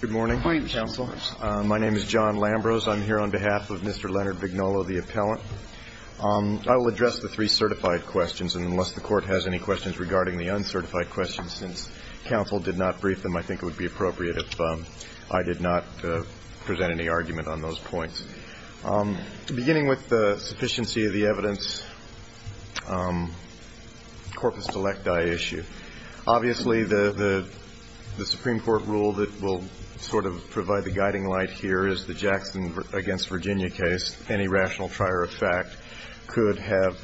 Good morning, counsel. My name is John Lambros. I'm here on behalf of Mr. Leonard Vignolo, the appellant. I will address the three certified questions, and unless the court has any questions regarding the uncertified questions, since counsel did not brief them, I think it would be appropriate if I did not present any argument on those points. Beginning with the sufficiency of the evidence, corpus delecti issue. Obviously, the Supreme Court rule that will sort of provide the guiding light here is the Jackson v. Virginia case. Any rational trier of fact could have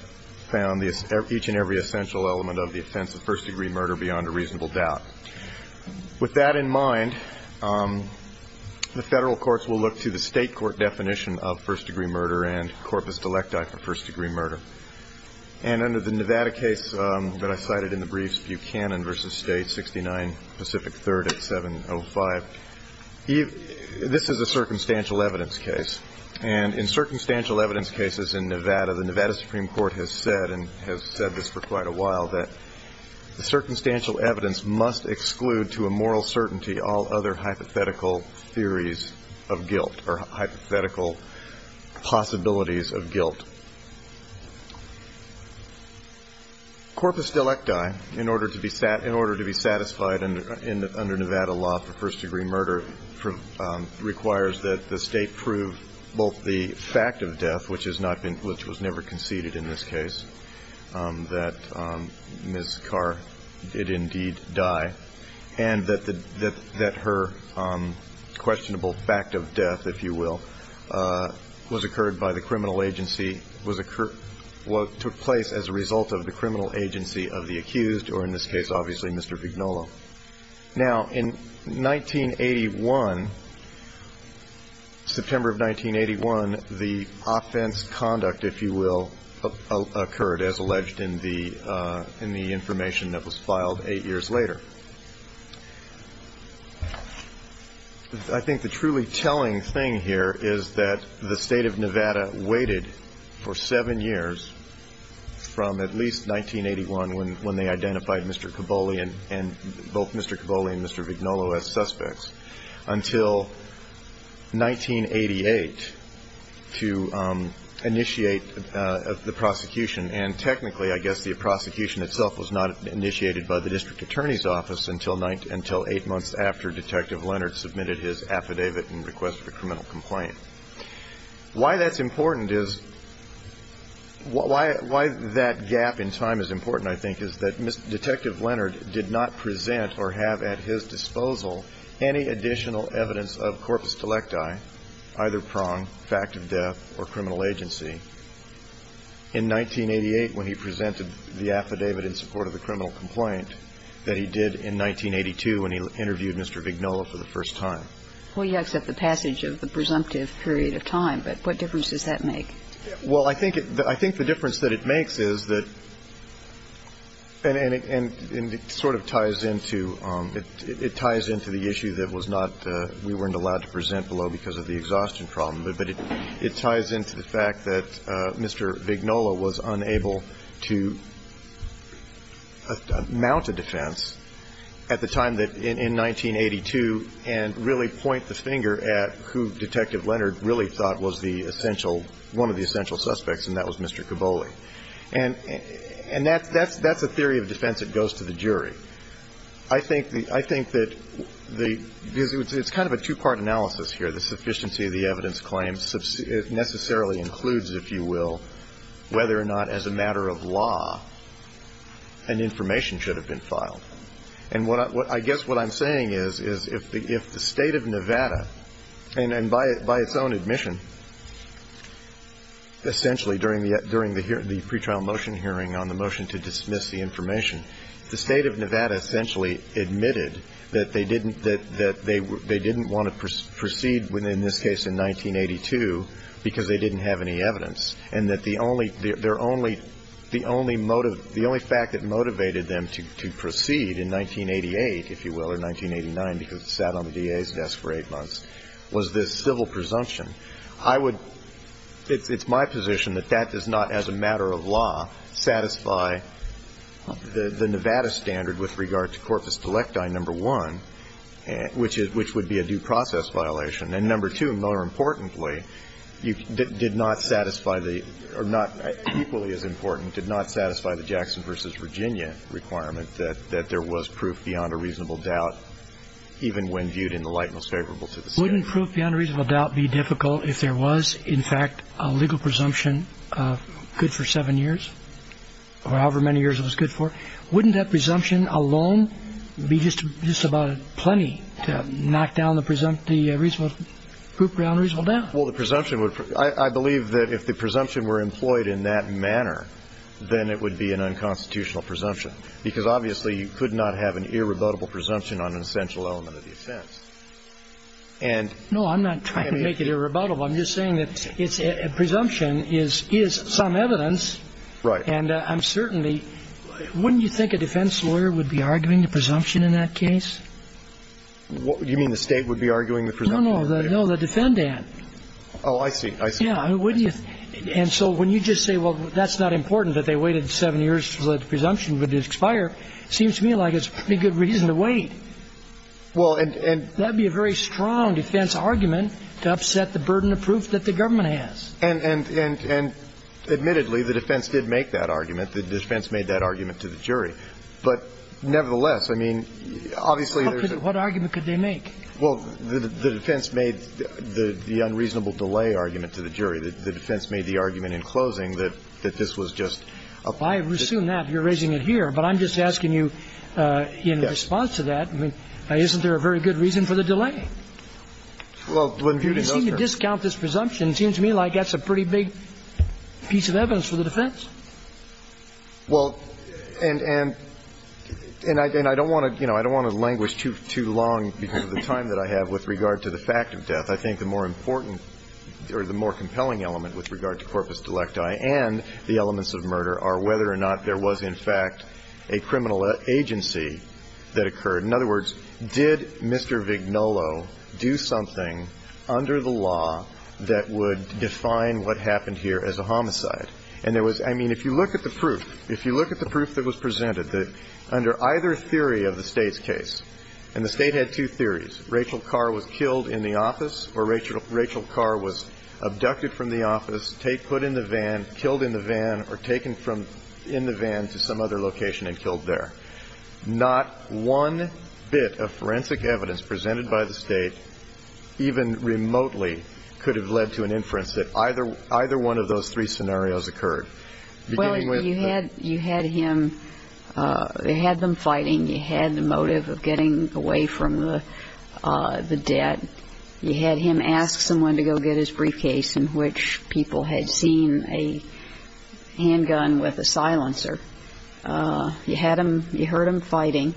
found each and every essential element of the offense a first-degree murder beyond a reasonable doubt. With that in mind, the Federal courts will look to the State court definition of first-degree murder and corpus delecti for first-degree murder. And under the Nevada case that I cited in the briefs, Buchanan v. State, 69 Pacific 3rd at 705, this is a circumstantial evidence case. And in circumstantial evidence cases in Nevada, the Nevada Supreme Court has said, and has said this for quite a while, that the circumstantial evidence must exclude to a moral certainty all other hypothetical theories of guilt or hypothetical possibilities of guilt. Corpus delecti, in order to be satisfied under Nevada law for first-degree murder, requires that the State prove both the fact of death, which has not been, which was never conceded in this case, that Ms. Carr did indeed die, and that her questionable fact of death, if you will, was occurred by the criminal agency. What took place as a result of the criminal agency of the accused, or in this case, obviously, Mr. Vignola. Now, in 1981, September of 1981, the offense conduct, if you will, occurred, as alleged in the information that was filed eight years later. I think the truly telling thing here is that the State of Nevada waited for seven years, from at least 1981, when they identified Mr. Caboli and both Mr. Caboli and Mr. Vignola as suspects, until 1988 to initiate the prosecution. And technically, I guess, the prosecution itself was not initiated by the district attorney's office until eight months after Detective Leonard submitted his affidavit and requested a criminal complaint. Why that's important is, why that gap in time is important, I think, is that Detective Leonard did not present or have at his disposal any additional evidence of corpus delecti, either prong, fact of death, or criminal agency, in 1988, when he presented the affidavit in support of the criminal complaint, that he did in 1982, when he interviewed Mr. Vignola for the first time. Well, you accept the passage of the presumptive period of time, but what difference does that make? Well, I think it – I think the difference that it makes is that – and it sort of ties into – it ties into the issue that was not – we weren't allowed to present below because of the exhaustion problem. But it ties into the fact that Mr. Vignola was unable to mount a defense at the time that – in 1982, and really point the finger at who Detective Leonard really thought was the essential – one of the essential suspects, and that was Mr. Caboli. And that's a theory of defense that goes to the jury. I think that the – because it's kind of a two-part analysis here. The sufficiency of the evidence claims necessarily includes, if you will, whether or not, as a matter of law, an information should have been filed. And what I guess what I'm saying is, is if the State of Nevada, and by its own admission, essentially during the pre-trial motion hearing on the motion to dismiss the information, the State of Nevada essentially admitted that they didn't want to proceed in this case in 1982 because they didn't have any evidence, and that the only – their only – the only motive – the only fact that motivated them to proceed in 1988, if you will, or 1989 because they sat on the DA's desk for eight months, was this civil presumption. I would – it's my position that that does not, as a matter of law, satisfy the Nevada standard with regard to Corpus Delecti, number one, which would be a due process violation. And number two, more importantly, did not satisfy the – or not – equally as important, did not satisfy the Jackson v. Virginia requirement that there was proof beyond a reasonable doubt, even when viewed in the light most favorable to the State. Wouldn't proof beyond a reasonable doubt be difficult if there was, in fact, a legal presumption good for seven years, or however many years it was good for? Wouldn't that presumption alone be just about plenty to knock down the presumption – proof beyond a reasonable doubt? Well, the presumption would – I believe that if the presumption were employed in that manner, then it would be an unconstitutional presumption because, obviously, you could not have an irrebuttable presumption on an essential element of the offense. And – No, I'm not trying to make it irrebuttable. I'm just saying that it's – a presumption is some evidence. Right. And I'm certainly – wouldn't you think a defense lawyer would be arguing the presumption in that case? Do you mean the State would be arguing the presumption? No, no. No, the defendant. Oh, I see. I see. Yeah. Wouldn't you – and so when you just say, well, that's not important that they waited seven years so that the presumption would expire, it seems to me like it's a pretty good reason to wait. Well, and – That would be a very strong defense argument to upset the burden of proof that the government has. And admittedly, the defense did make that argument. The defense made that argument to the jury. But nevertheless, I mean, obviously, there's a – What argument could they make? Well, the defense made the unreasonable delay argument to the jury. The defense made the argument in closing that this was just a – I assume that. You're raising it here. But I'm just asking you in response to that, isn't there a very good reason for the delay? Well, when viewed in those terms – Well, that's a pretty big piece of evidence for the defense. Well, and I don't want to languish too long because of the time that I have with regard to the fact of death. I think the more important or the more compelling element with regard to corpus delecti and the elements of murder are whether or not there was, in fact, a criminal agency that occurred. In other words, did Mr. Vignolo do something under the law that would define what happened here as a homicide? And there was – I mean, if you look at the proof, if you look at the proof that was presented, that under either theory of the State's case – and the State had two theories. Rachel Carr was killed in the office or Rachel Carr was abducted from the office, put in the van, killed in the van, or taken from – in the van to some other location and killed there. Not one bit of forensic evidence presented by the State, even remotely, could have led to an inference that either one of those three scenarios occurred, beginning with – Well, you had him – you had them fighting. You had the motive of getting away from the dead. You had him ask someone to go get his briefcase in which people had seen a handgun with a silencer. You had him – you heard him fighting.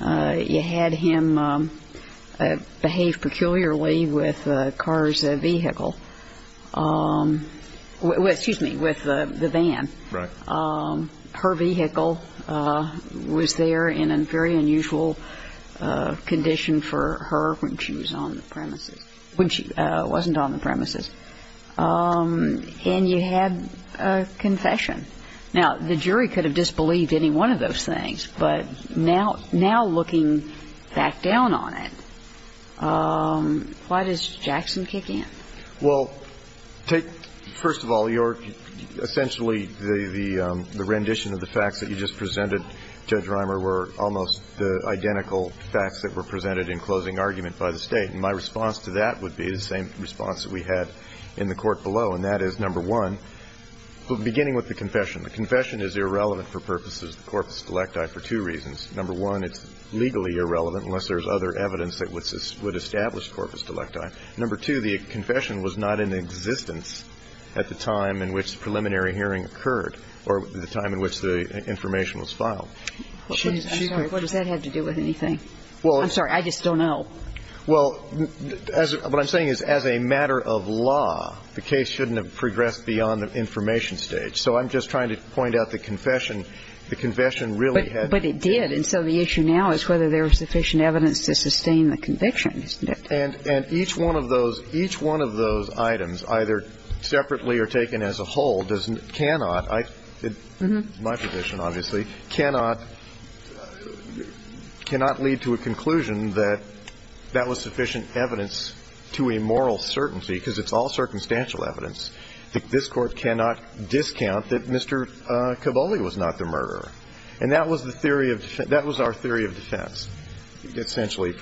You had him behave peculiarly with Carr's vehicle – excuse me, with the van. Right. Her vehicle was there in a very unusual condition for her when she was on the premises – when she wasn't on the premises. And you had a confession. Now, the jury could have disbelieved any one of those things, but now looking back down on it, why does Jackson kick in? Well, take – first of all, your – essentially, the rendition of the facts that you just presented, Judge Reimer, were almost the identical facts that were presented in closing argument by the State. And my response to that would be the same response that we had in the Court below, and that is, number one, beginning with the confession. The confession is irrelevant for purposes of the corpus delecti for two reasons. Number one, it's legally irrelevant unless there's other evidence that would establish corpus delecti. Number two, the confession was not in existence at the time in which the preliminary hearing occurred or the time in which the information was filed. I'm sorry. What does that have to do with anything? I'm sorry. I just don't know. Well, as – what I'm saying is, as a matter of law, the case shouldn't have progressed beyond the information stage. So I'm just trying to point out the confession. The confession really had to be – But it did. And so the issue now is whether there was sufficient evidence to sustain the conviction, isn't it? And each one of those – each one of those items, either separately or taken as a whole, does – cannot – my position, obviously, cannot – cannot lead to a conclusion that that was sufficient evidence to a moral certainty, because it's all circumstantial evidence. This Court cannot discount that Mr. Cavoli was not the murderer. And that was the theory of – that was our theory of defense, essentially, at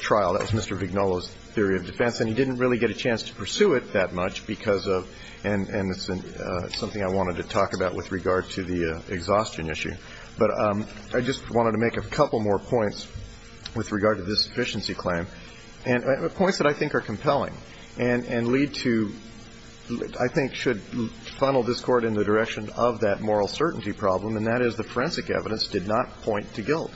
trial. That was Mr. Vignola's theory of defense. And he didn't really get a chance to pursue it that much because of – and it's something I wanted to talk about with regard to the exhaustion issue. But I just wanted to make a couple more points with regard to this sufficiency claim, and points that I think are compelling and – and lead to – I think should funnel this Court in the direction of that moral certainty problem, and that is the forensic evidence did not point to guilt.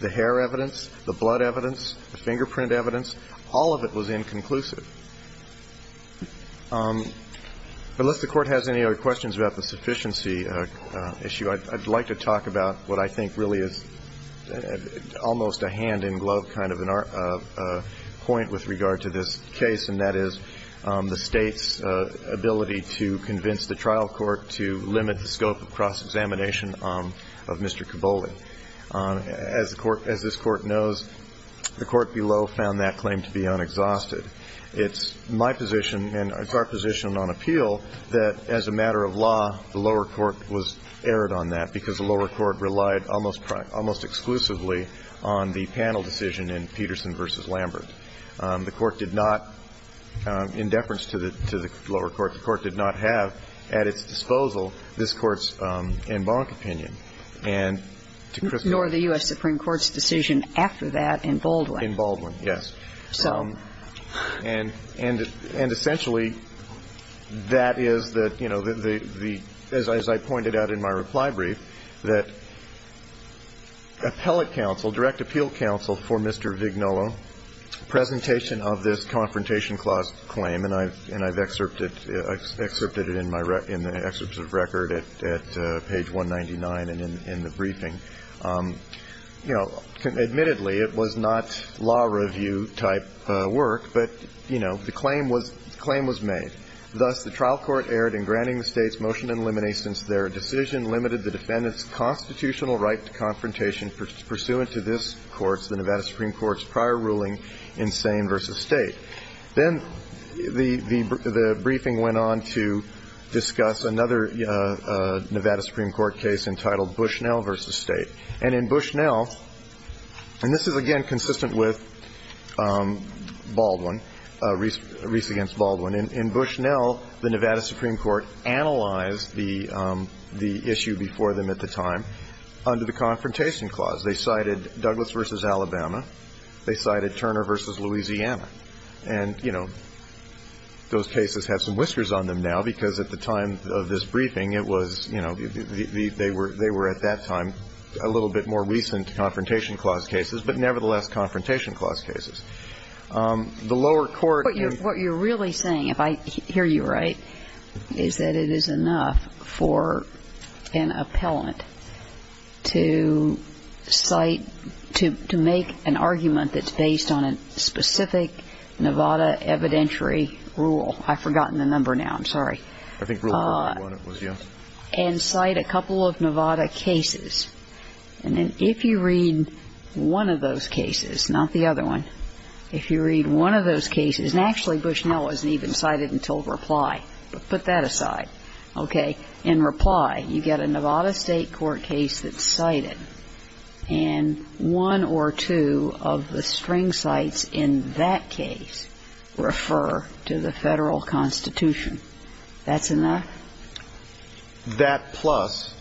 The hair evidence, the blood evidence, the fingerprint evidence, all of it was inconclusive. Unless the Court has any other questions about the sufficiency issue, I'd like to talk about what I think really is almost a hand-in-glove kind of a point with regard to this case, and that is the State's ability to convince the trial court to limit the scope of cross-examination of Mr. Cavoli. As the Court – as this Court knows, the Court below found that claim to be unexhausted. It's my position, and it's our position on appeal, that as a matter of law, the lower court was errant on that because the lower court relied almost exclusively on the panel decision in Peterson v. Lambert. The Court did not, in deference to the lower court, the Court did not have at its disposal this Court's en banc opinion. And to Chris's – Nor the U.S. Supreme Court's decision after that in Baldwin. In Baldwin, yes. And essentially, that is the – as I pointed out in my reply brief, that appellate counsel, direct appeal counsel for Mr. Vignolo, presentation of this Confrontation Clause claim – and I've excerpted it in the excerpt of record at page 199 and in the briefing. You know, admittedly, it was not law review-type work, but, you know, the claim was – the claim was made. Thus, the trial court erred in granting the States motion in limine since their decision limited the defendants' constitutional right to confrontation pursuant to this Court's, the Nevada Supreme Court's, prior ruling in Sain v. State. Then the briefing went on to discuss another Nevada Supreme Court case entitled Bushnell v. State. And in Bushnell – and this is, again, consistent with Baldwin, Reese v. Baldwin. In Bushnell, the Nevada Supreme Court analyzed the issue before them at the time under the Confrontation Clause. They cited Douglas v. Alabama. They cited Turner v. Louisiana. And, you know, those cases have some whiskers on them now because at the time of this a little bit more recent Confrontation Clause cases, but nevertheless Confrontation Clause cases. The lower court – But what you're really saying, if I hear you right, is that it is enough for an appellant to cite – to make an argument that's based on a specific Nevada evidentiary rule. I've forgotten the number now. I'm sorry. I think Rule 101 it was, yes. And cite a couple of Nevada cases. And then if you read one of those cases, not the other one, if you read one of those cases – and actually Bushnell wasn't even cited until Reply, but put that aside. Okay. In Reply, you get a Nevada State court case that's cited, and one or two of the string cites in that case refer to the Federal Constitution. That's enough? That plus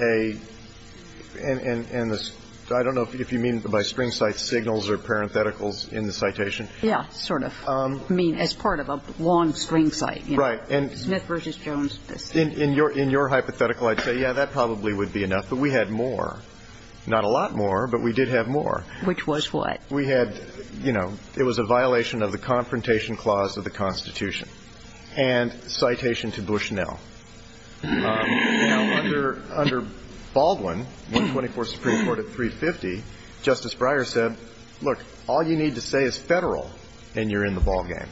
a – and the – I don't know if you mean by string cites signals or parentheticals in the citation. Yeah, sort of. I mean, as part of a long string cite. Right. And – Smith v. Jones. In your hypothetical, I'd say, yeah, that probably would be enough. But we had more. Not a lot more, but we did have more. Which was what? We had, you know, it was a violation of the Confrontation Clause of the Constitution. And citation to Bushnell. Now, under Baldwin, 124th Supreme Court at 350, Justice Breyer said, look, all you need to say is Federal and you're in the ballgame.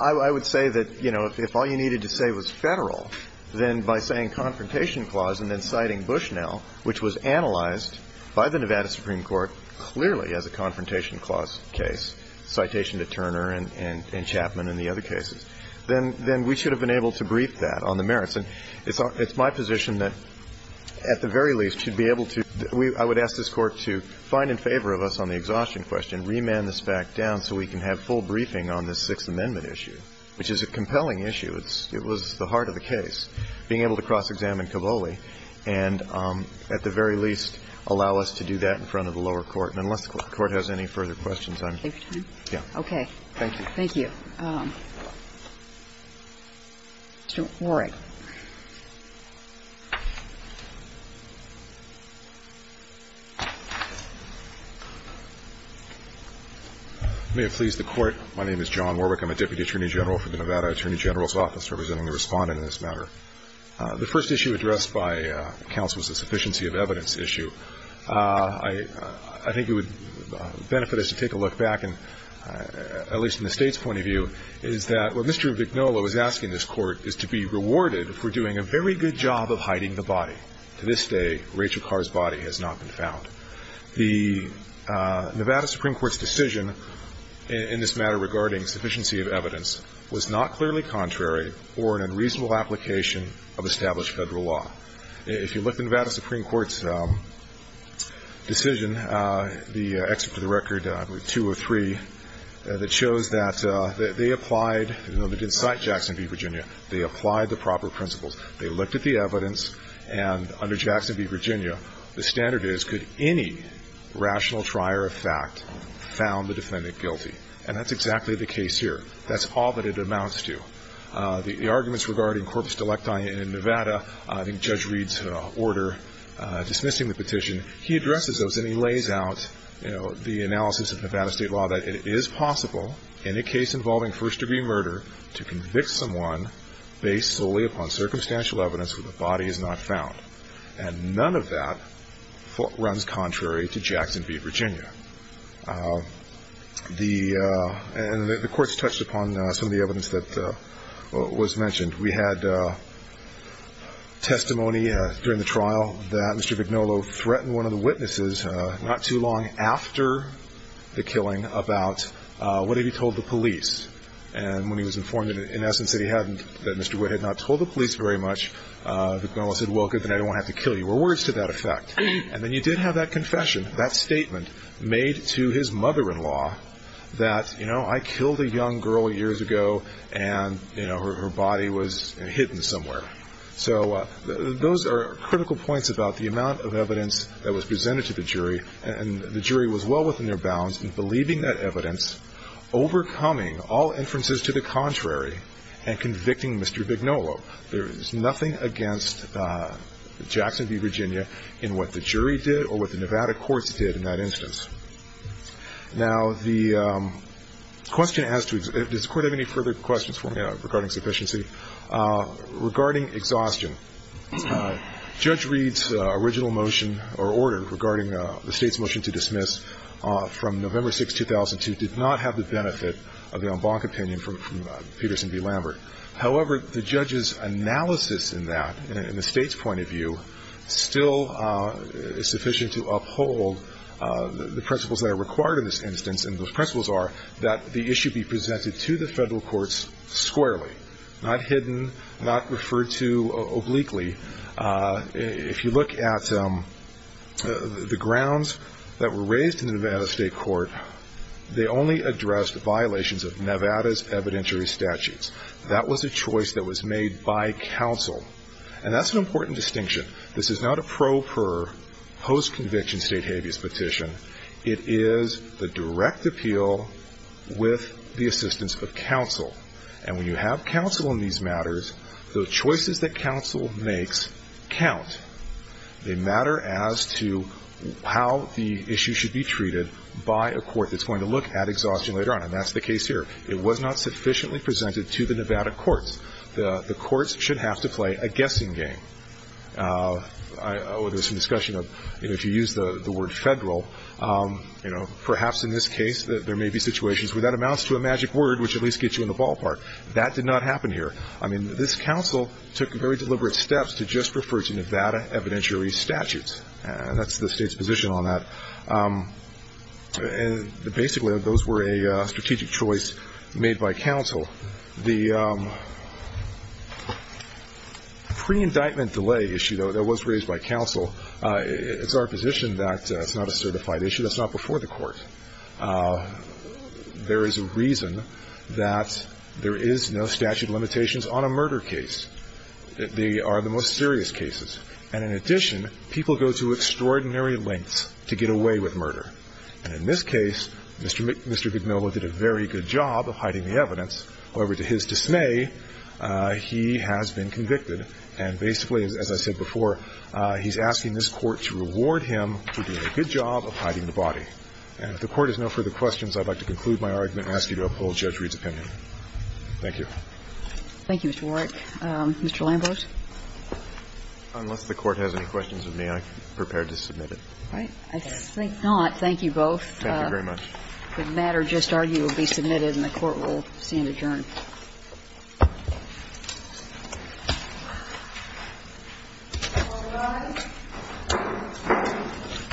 I would say that, you know, if all you needed to say was Federal, then by saying Confrontation Clause and then citing Bushnell, which was analyzed by the Nevada Supreme Court clearly as a Confrontation Clause case, citation to Turner and Chapman and the other cases, then we should have been able to brief that on the merits. And it's my position that at the very least should be able to – I would ask this Court to find in favor of us on the exhaustion question, remand this fact down so we can have full briefing on this Sixth Amendment issue, which is a compelling issue. It was the heart of the case, being able to cross-examine Cavoli, and at the very least allow us to do that in front of the lower court. And unless the Court has any further questions, I'm – Okay. Thank you. Thank you. Mr. Warwick. May it please the Court. My name is John Warwick. I'm a Deputy Attorney General for the Nevada Attorney General's Office, representing the Respondent in this matter. The first issue addressed by counsel is the sufficiency of evidence issue. I think it would benefit us to take a look back, at least in the State's point of view, is that what Mr. Vignola was asking this Court is to be rewarded for doing a very good job of hiding the body. To this day, Rachel Carr's body has not been found. The Nevada Supreme Court's decision in this matter regarding sufficiency of evidence was not clearly contrary or an unreasonable application of established Federal law. If you look at the Nevada Supreme Court's decision, the Excerpt of the Record 203, that shows that they applied – they didn't cite Jackson v. Virginia. They applied the proper principles. They looked at the evidence, and under Jackson v. Virginia, the standard is could any rational trier of fact found the defendant guilty? And that's exactly the case here. That's all that it amounts to. The arguments regarding corpus delicti in Nevada, I think Judge Reed's order dismissing the petition, he addresses those and he lays out the analysis of Nevada State law that it is possible in a case involving first-degree murder to convict someone based solely upon circumstantial evidence where the body is not found. And none of that runs contrary to Jackson v. Virginia. The – and the Court's touched upon some of the evidence that was mentioned. We had testimony during the trial that Mr. Vignolo threatened one of the witnesses not too long after the killing about what had he told the police. And when he was informed, in essence, that he hadn't – that Mr. Witt had not told the police very much, Vignolo said, well, good, then I don't want to have to kill you, or words to that effect. And then you did have that confession, that statement made to his mother-in-law that, you know, I killed a young girl years ago and, you know, her body was hidden somewhere. So those are critical points about the amount of evidence that was presented to the jury. And the jury was well within their bounds in believing that evidence, overcoming all inferences to the contrary, and convicting Mr. Vignolo. There is nothing against Jackson v. Virginia in what the jury did or what the Nevada courts did in that instance. Now, the question as to – does the Court have any further questions for me regarding sufficiency? Regarding exhaustion, Judge Reed's original motion or order regarding the State's motion to dismiss from November 6, 2002, did not have the benefit of the en banc opinion from Peterson v. Lambert. However, the judge's analysis in that, in the State's point of view, still is sufficient to uphold the principles that are required in this instance, and those principles are that the issue be presented to the Federal courts squarely, not hidden, not referred to obliquely. If you look at the grounds that were raised in the Nevada State Court, they only addressed violations of Nevada's evidentiary statutes. That was a choice that was made by counsel. And that's an important distinction. This is not a pro per post-conviction State habeas petition. It is the direct appeal with the assistance of counsel. And when you have counsel in these matters, the choices that counsel makes count. They matter as to how the issue should be treated by a court that's going to look at exhaustion later on. And that's the case here. It was not sufficiently presented to the Nevada courts. The courts should have to play a guessing game. There was some discussion of, you know, if you use the word Federal, you know, perhaps in this case there may be situations where that amounts to a magic word which at least gets you in the ballpark. That did not happen here. I mean, this counsel took very deliberate steps to just refer to Nevada evidentiary statutes. That's the State's position on that. And basically those were a strategic choice made by counsel. The pre-indictment delay issue, though, that was raised by counsel, it's our position that it's not a certified issue. That's not before the court. There is a reason that there is no statute of limitations on a murder case. They are the most serious cases. And in addition, people go to extraordinary lengths to get away with murder. And in this case, Mr. Vignola did a very good job of hiding the evidence. However, to his dismay, he has been convicted. And basically, as I said before, he's asking this Court to reward him for doing a good job of hiding the body. And if the Court has no further questions, I'd like to conclude my argument and ask you to uphold Judge Reed's opinion. Thank you. Thank you, Mr. Warrick. Mr. Lambert. Unless the Court has any questions of me, I'm prepared to submit it. All right. I think not. Thank you both. Thank you very much. The matter just argued will be submitted and the Court will stand adjourned. All rise. Court is in session.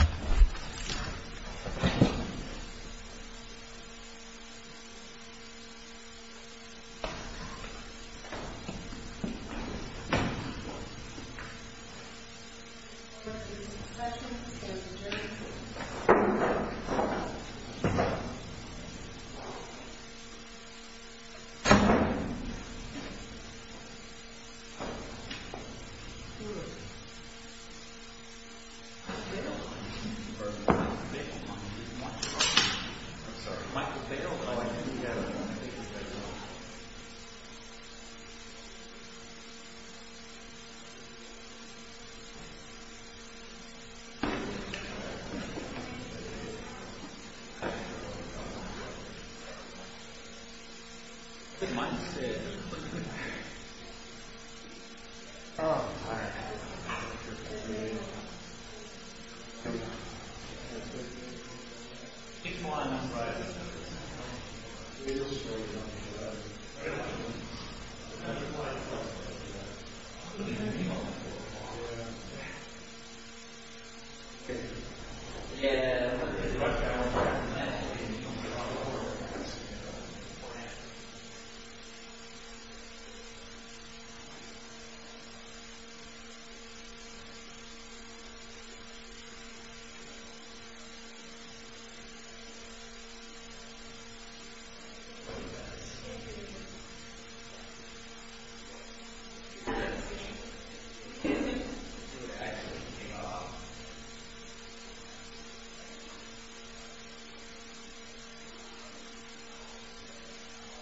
Court is adjourned.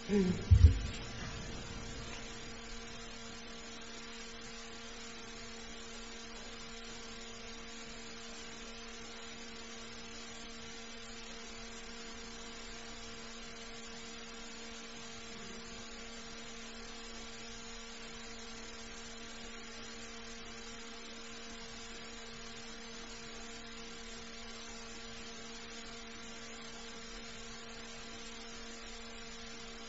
Thank you. Thank you. Thank you. Thank you. Thank you. Thank you. Thank you.